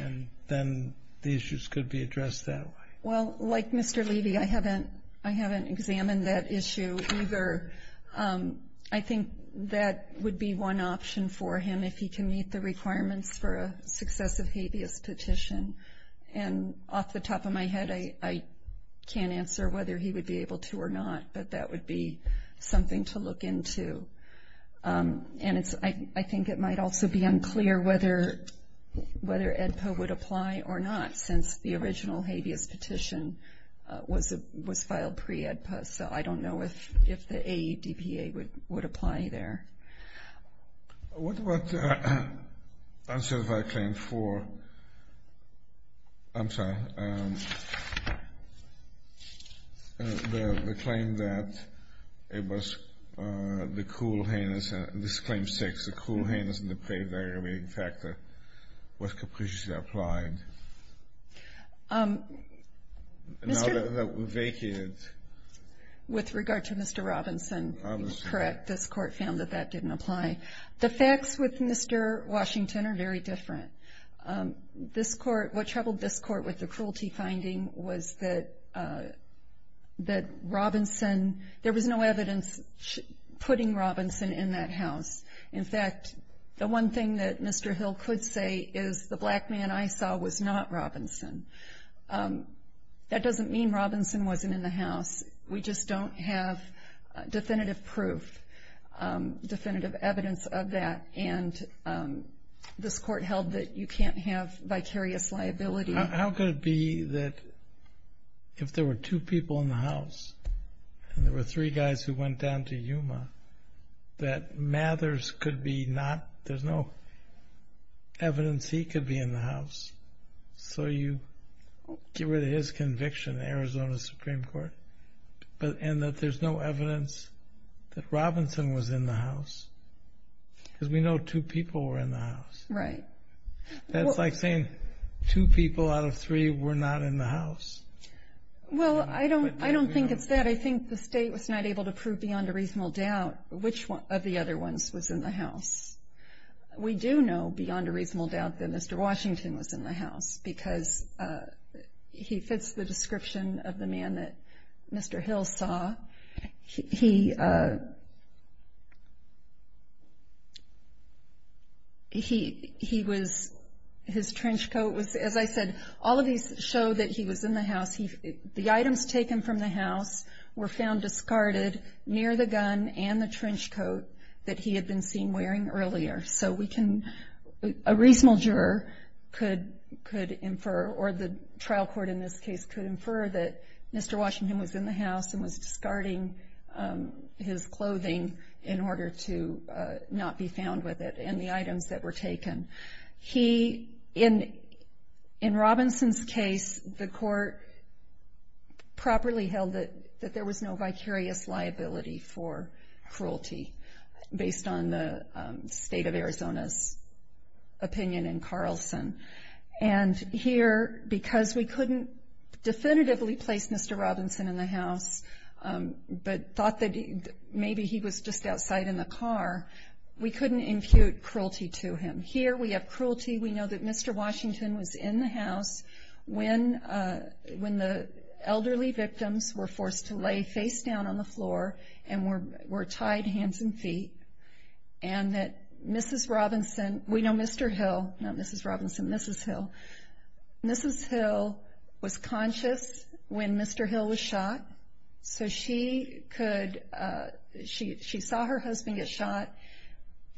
and then the issues could be addressed that way? Well, like Mr. Levy, I haven't examined that issue either. I think that would be one option for him if he can meet the requirements for a successive habeas petition. And off the top of my head, I can't answer whether he would be able to or not, but that would be something to look into. And I think it might also be unclear whether AEDPA would apply or not, since the original habeas petition was filed pre-AEDPA. So I don't know if the AEDPA would apply there. What about Uncertified Claim 4? I'm sorry. The claim that it was the cruel heinous, this is Claim 6, the cruel heinous and depraved aggravating factor was capriciously applied. Now that that was vacated. With regard to Mr. Robinson, it's correct. This Court found that that didn't apply. The facts with Mr. Washington are very different. This Court, what troubled this Court with the cruelty finding was that Robinson, there was no evidence putting Robinson in that house. In fact, the one thing that Mr. Hill could say is the black man I saw was not Robinson. That doesn't mean Robinson wasn't in the house. We just don't have definitive proof, definitive evidence of that. And this Court held that you can't have vicarious liability. How could it be that if there were two people in the house and there were three guys who went down to Yuma, that Mathers could be not, there's no evidence he could be in the house. So you get rid of his conviction, Arizona Supreme Court. And that there's no evidence that Robinson was in the house. Because we know two people were in the house. Right. That's like saying two people out of three were not in the house. Well, I don't think it's that. I think the State was not able to prove beyond a reasonable doubt which of the other ones was in the house. We do know beyond a reasonable doubt that Mr. Washington was in the house because he fits the description of the man that Mr. Hill saw. He was, his trench coat was, as I said, all of these show that he was in the house. The items taken from the house were found discarded near the gun and the trench coat that he had been seen wearing earlier. So we can, a reasonable juror could infer or the trial court in this case could infer that Mr. Washington was in the house and was discarding his clothing in order to not be found with it and the items that were taken. He, in Robinson's case, the court properly held that there was no vicarious liability for cruelty based on the State of Arizona's opinion in Carlson. And here, because we couldn't definitively place Mr. Robinson in the house but thought that maybe he was just outside in the car, we couldn't impute cruelty to him. Here we have cruelty. We know that Mr. Washington was in the house when the elderly victims were forced to lay face down on the floor and were tied hands and feet. And that Mrs. Robinson, we know Mr. Hill, not Mrs. Robinson, Mrs. Hill, Mrs. Hill was conscious when Mr. Hill was shot. So she could, she saw her husband get shot.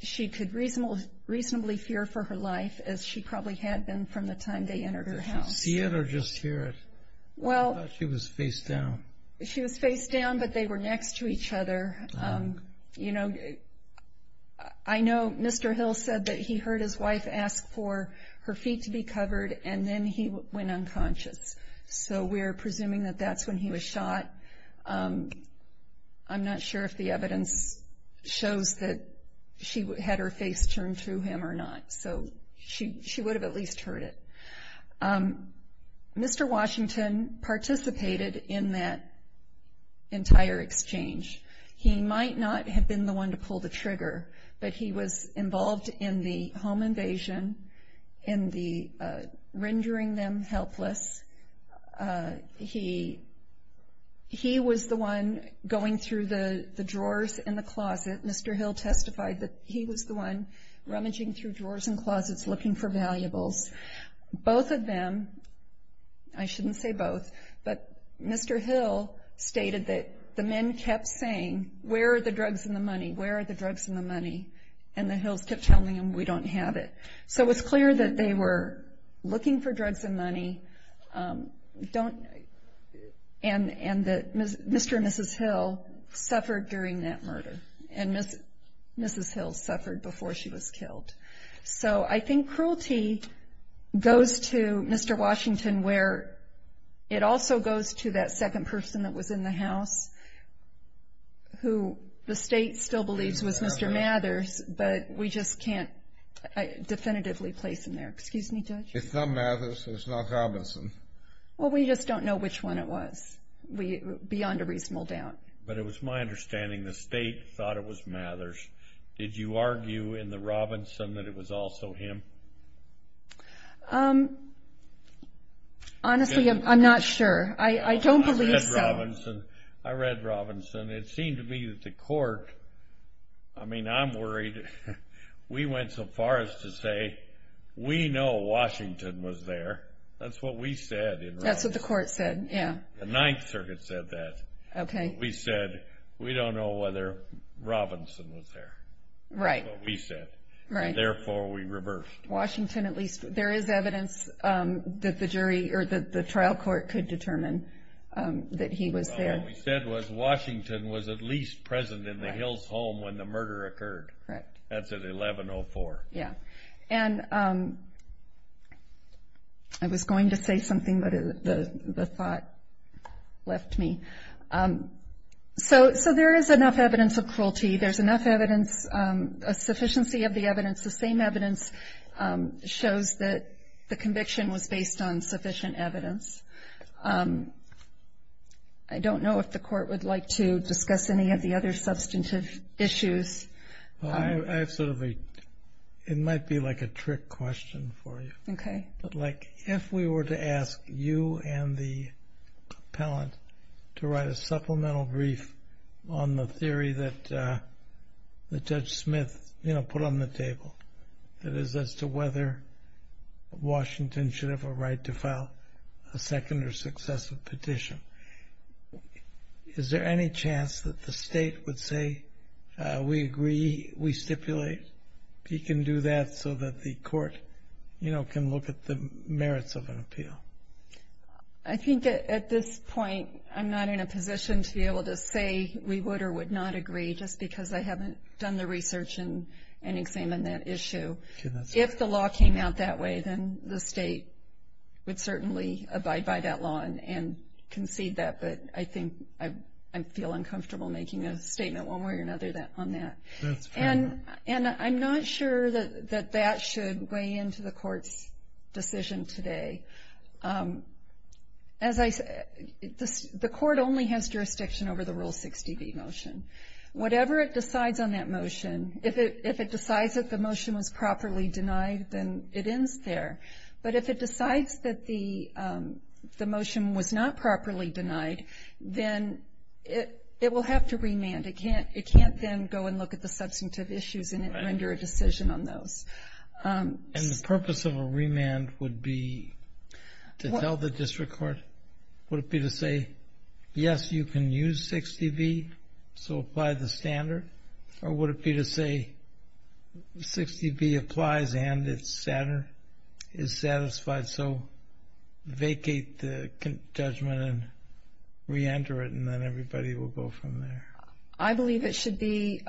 She could reasonably fear for her life as she probably had been from the time they entered her house. Did she see it or just hear it? Well. I thought she was face down. She was face down but they were next to each other. You know, I know Mr. Hill said that he heard his wife ask for her feet to be covered and then he went unconscious. So we're presuming that that's when he was shot. I'm not sure if the evidence shows that she had her face turned to him or not. So she would have at least heard it. Mr. Washington participated in that entire exchange. He might not have been the one to pull the trigger but he was involved in the home invasion, in the rendering them helpless. He was the one going through the drawers in the closet. Mr. Hill testified that he was the one rummaging through drawers and closets looking for valuables. Both of them, I shouldn't say both, but Mr. Hill stated that the men kept saying, where are the drugs and the money, where are the drugs and the money? And the Hills kept telling him, we don't have it. So it was clear that they were looking for drugs and money. And Mr. and Mrs. Hill suffered during that murder. And Mrs. Hill suffered before she was killed. So I think cruelty goes to Mr. Washington where it also goes to that second person that was in the house, who the state still believes was Mr. Mathers, but we just can't definitively place him there. Excuse me, Judge? It's not Mathers. It's not Robinson. Well, we just don't know which one it was beyond a reasonable doubt. But it was my understanding the state thought it was Mathers. Did you argue in the Robinson that it was also him? Honestly, I'm not sure. I don't believe so. I read Robinson. I read Robinson. It seemed to me that the court, I mean, I'm worried. We went so far as to say we know Washington was there. That's what we said in Robinson. That's what the court said, yeah. The Ninth Circuit said that. Okay. That's what we said. We don't know whether Robinson was there. Right. That's what we said. Right. And, therefore, we reversed. Washington at least. There is evidence that the jury or the trial court could determine that he was there. Well, what we said was Washington was at least present in the Hills' home when the murder occurred. Correct. That's at 1104. Yeah. And I was going to say something, but the thought left me. So there is enough evidence of cruelty. There's enough evidence, a sufficiency of the evidence. The same evidence shows that the conviction was based on sufficient evidence. I don't know if the court would like to discuss any of the other substantive issues. It might be like a trick question for you. Okay. If we were to ask you and the appellant to write a supplemental brief on the theory that Judge Smith put on the table, that is as to whether Washington should have a right to file a second or successive petition, is there any chance that the state would say, we agree, we stipulate, he can do that so that the court can look at the merits of an appeal? I think at this point I'm not in a position to be able to say we would or would not agree, just because I haven't done the research and examined that issue. If the law came out that way, then the state would certainly abide by that law and concede that, but I think I feel uncomfortable making a statement one way or another on that. That's fair enough. And I'm not sure that that should weigh into the court's decision today. The court only has jurisdiction over the Rule 60b motion. Whatever it decides on that motion, if it decides that the motion was properly denied, then it ends there. But if it decides that the motion was not properly denied, then it will have to remand. It can't then go and look at the substantive issues and render a decision on those. And the purpose of a remand would be to tell the district court, would it be to say, yes, you can use 60b, so apply the standard, or would it be to say 60b applies and is satisfied, so vacate the judgment and reenter it, and then everybody will go from there? I believe it should be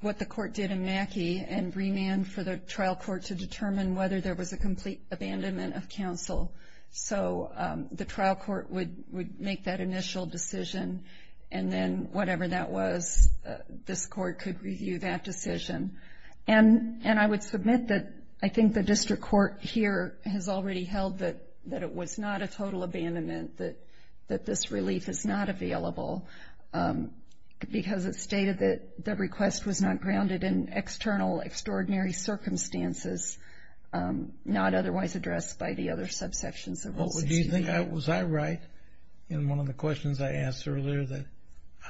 what the court did in Mackey and remand for the trial court to determine whether there was a complete abandonment of counsel. So the trial court would make that initial decision, and then whatever that was, this court could review that decision. And I would submit that I think the district court here has already held that it was not a total abandonment, that this relief is not available because it stated that the request was not grounded in external, extraordinary circumstances, not otherwise addressed by the other subsections of Rule 60b. Was I right in one of the questions I asked earlier, that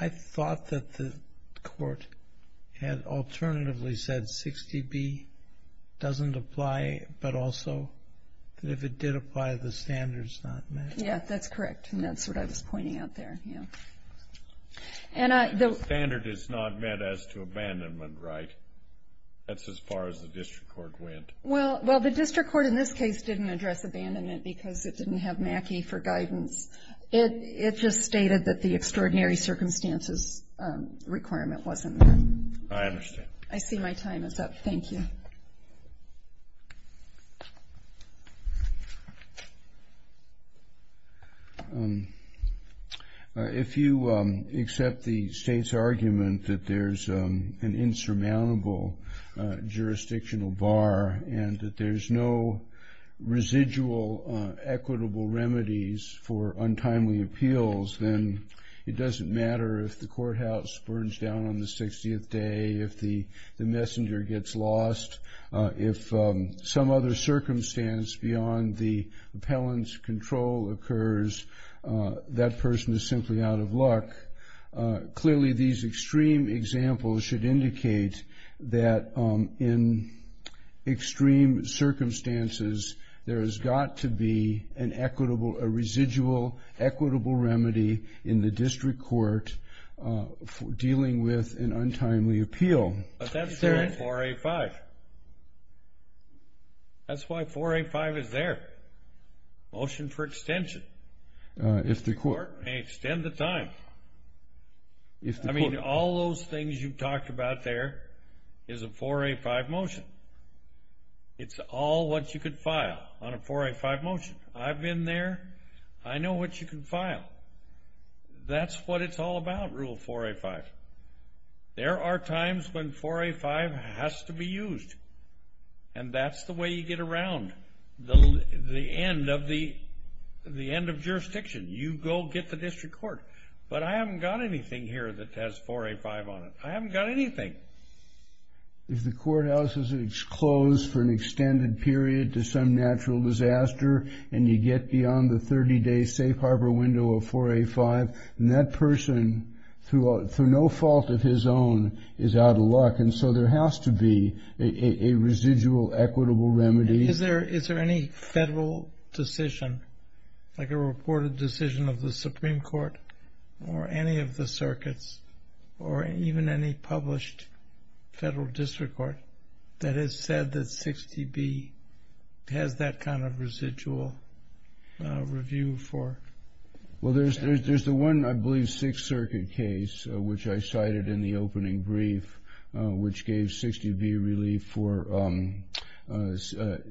I thought that the court had alternatively said 60b doesn't apply, but also that if it did apply, the standard's not met? Yeah, that's correct, and that's what I was pointing out there, yeah. The standard is not met as to abandonment, right? That's as far as the district court went. Well, the district court in this case didn't address abandonment because it didn't have Mackey for guidance. It just stated that the extraordinary circumstances requirement wasn't met. I understand. I see my time is up. Thank you. If you accept the state's argument that there's an insurmountable jurisdictional bar and that there's no residual equitable remedies for untimely appeals, then it doesn't matter if the courthouse burns down on the 60th day, if the messenger gets lost, if some other circumstance beyond the appellant's control occurs, that person is simply out of luck. Clearly, these extreme examples should indicate that in extreme circumstances, there has got to be a residual equitable remedy in the district court dealing with an untimely appeal. But that's in 4A-5. That's why 4A-5 is there. Motion for extension. If the court may extend the time. I mean, all those things you talked about there is a 4A-5 motion. It's all what you could file on a 4A-5 motion. I've been there. I know what you can file. That's what it's all about, Rule 4A-5. There are times when 4A-5 has to be used, and that's the way you get around the end of jurisdiction. You go get the district court. But I haven't got anything here that has 4A-5 on it. I haven't got anything. If the courthouse is closed for an extended period to some natural disaster and you get beyond the 30-day safe harbor window of 4A-5, then that person, through no fault of his own, is out of luck. And so there has to be a residual equitable remedy. Is there any federal decision, like a reported decision of the Supreme Court or any of the circuits or even any published federal district court that has said that 60B has that kind of residual review for? Well, there's the one, I believe, Sixth Circuit case, which I cited in the opening brief, which gave 60B relief for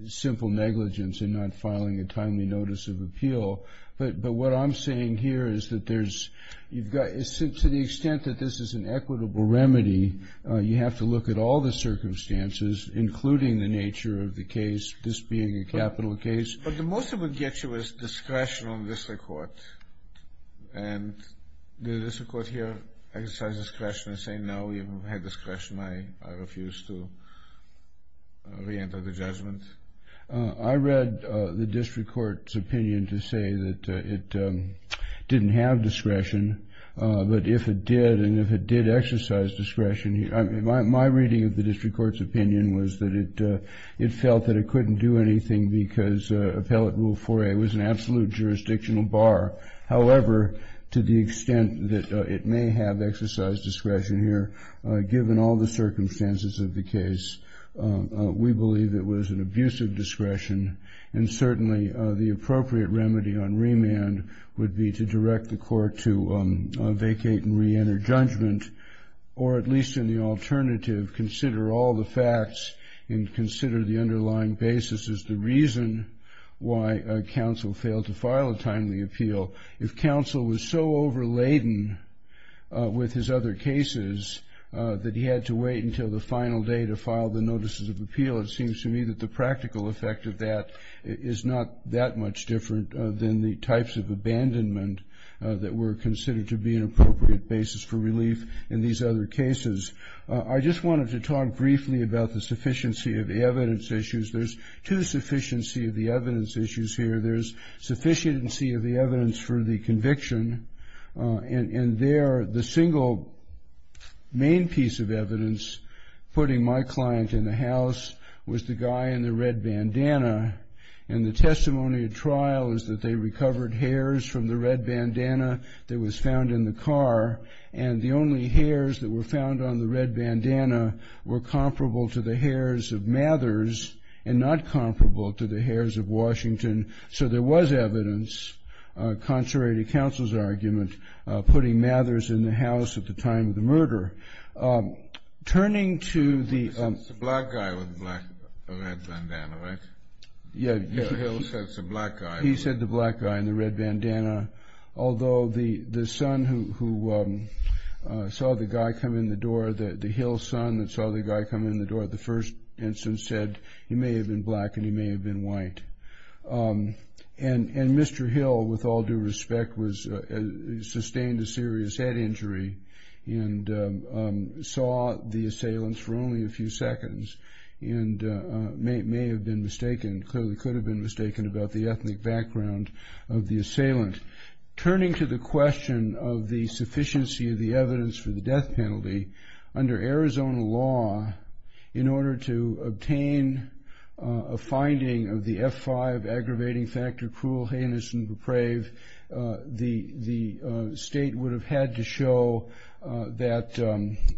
simple negligence in not filing a timely notice of appeal. But what I'm saying here is that there's you've got to the extent that this is an equitable remedy, you have to look at all the circumstances, including the nature of the case, this being a capital case. But the most it would get you is discretion on district court. And does the district court here exercise discretion in saying, no, you've had discretion, I refuse to reenter the judgment? I read the district court's opinion to say that it didn't have discretion. But if it did and if it did exercise discretion, my reading of the district court's opinion was that it felt that it couldn't do anything because Appellate Rule 4A was an absolute jurisdictional bar. However, to the extent that it may have exercised discretion here, given all the circumstances of the case, we believe it was an abuse of discretion. And certainly the appropriate remedy on remand would be to direct the court to vacate and reenter judgment, or at least in the alternative, consider all the facts and consider the underlying basis as the reason why counsel failed to file a timely appeal. If counsel was so overladen with his other cases that he had to wait until the final day to file the notices of appeal, it seems to me that the practical effect of that is not that much different than the types of abandonment that were considered to be an appropriate basis for relief in these other cases. I just wanted to talk briefly about the sufficiency of the evidence issues. There's two sufficiency of the evidence issues here. There's sufficiency of the evidence for the conviction, and there the single main piece of evidence putting my client in the house was the guy in the red bandana. And the testimony at trial is that they recovered hairs from the red bandana that was found in the car, and the only hairs that were found on the red bandana were comparable to the hairs of Mathers and not comparable to the hairs of Washington. So there was evidence, contrary to counsel's argument, putting Mathers in the house at the time of the murder. It's the black guy with the red bandana, right? Yeah. Mr. Hill said it's the black guy. He said the black guy in the red bandana, although the son who saw the guy come in the door, the Hill son that saw the guy come in the door, the first instance said he may have been black and he may have been white. And Mr. Hill, with all due respect, sustained a serious head injury and saw the assailants for only a few seconds and may have been mistaken, clearly could have been mistaken about the ethnic background of the assailant. Turning to the question of the sufficiency of the evidence for the death penalty, under Arizona law, in order to obtain a finding of the F5 aggravating factor, cruel, heinous, and depraved, the state would have had to show that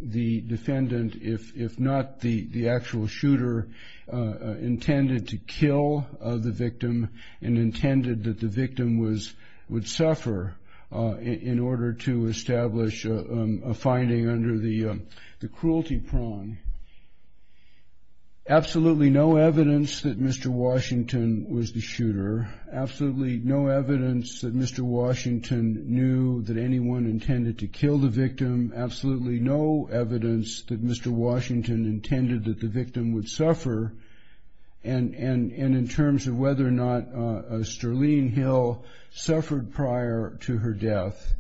the defendant, if not the actual shooter, intended to kill the victim and intended that the victim would suffer in order to establish a finding under the cruelty prong. Absolutely no evidence that Mr. Washington was the shooter. Absolutely no evidence that Mr. Washington knew that anyone intended to kill the victim. Absolutely no evidence that Mr. Washington intended that the victim would suffer. And in terms of whether or not Sterling Hill suffered prior to her death,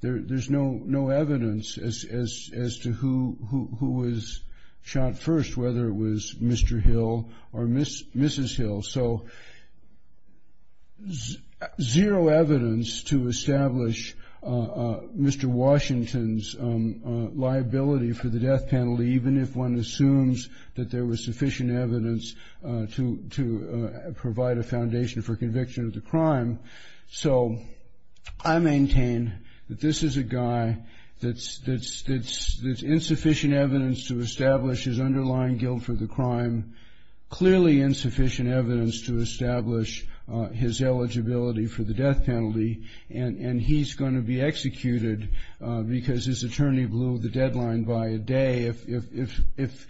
there's no evidence as to who was shot first, whether it was Mr. Hill or Mrs. Hill. So zero evidence to establish Mr. Washington's liability for the death penalty, even if one assumes that there was sufficient evidence to provide a foundation for conviction of the crime. So I maintain that this is a guy that's insufficient evidence to establish his underlying guilt for the crime, clearly insufficient evidence to establish his eligibility for the death penalty, and he's going to be executed because his attorney blew the deadline by a day. If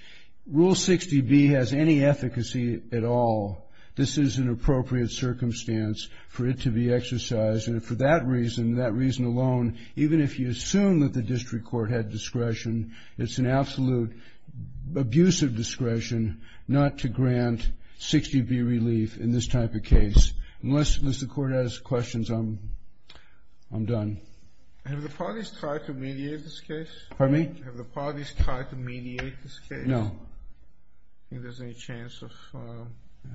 Rule 60B has any efficacy at all, this is an appropriate circumstance for it to be exercised. And for that reason, that reason alone, even if you assume that the district court had discretion, it's an absolute abuse of discretion not to grant 60B relief in this type of case. Unless the court has questions, I'm done. Have the parties tried to mediate this case? Pardon me? Have the parties tried to mediate this case? No. Do you think there's any chance of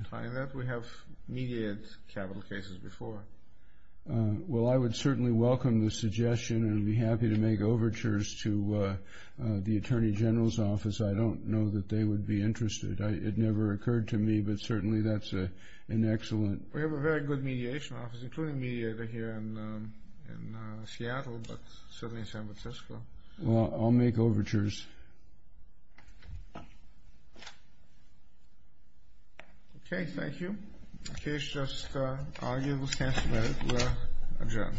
trying that? We have mediated capital cases before. Well, I would certainly welcome the suggestion and would be happy to make overtures to the Attorney General's office. I don't know that they would be interested. It never occurred to me, but certainly that's an excellent. We have a very good mediation office, including mediator here in Seattle, but certainly in San Francisco. Well, I'll make overtures. Okay, thank you. Case just argued. We'll adjourn.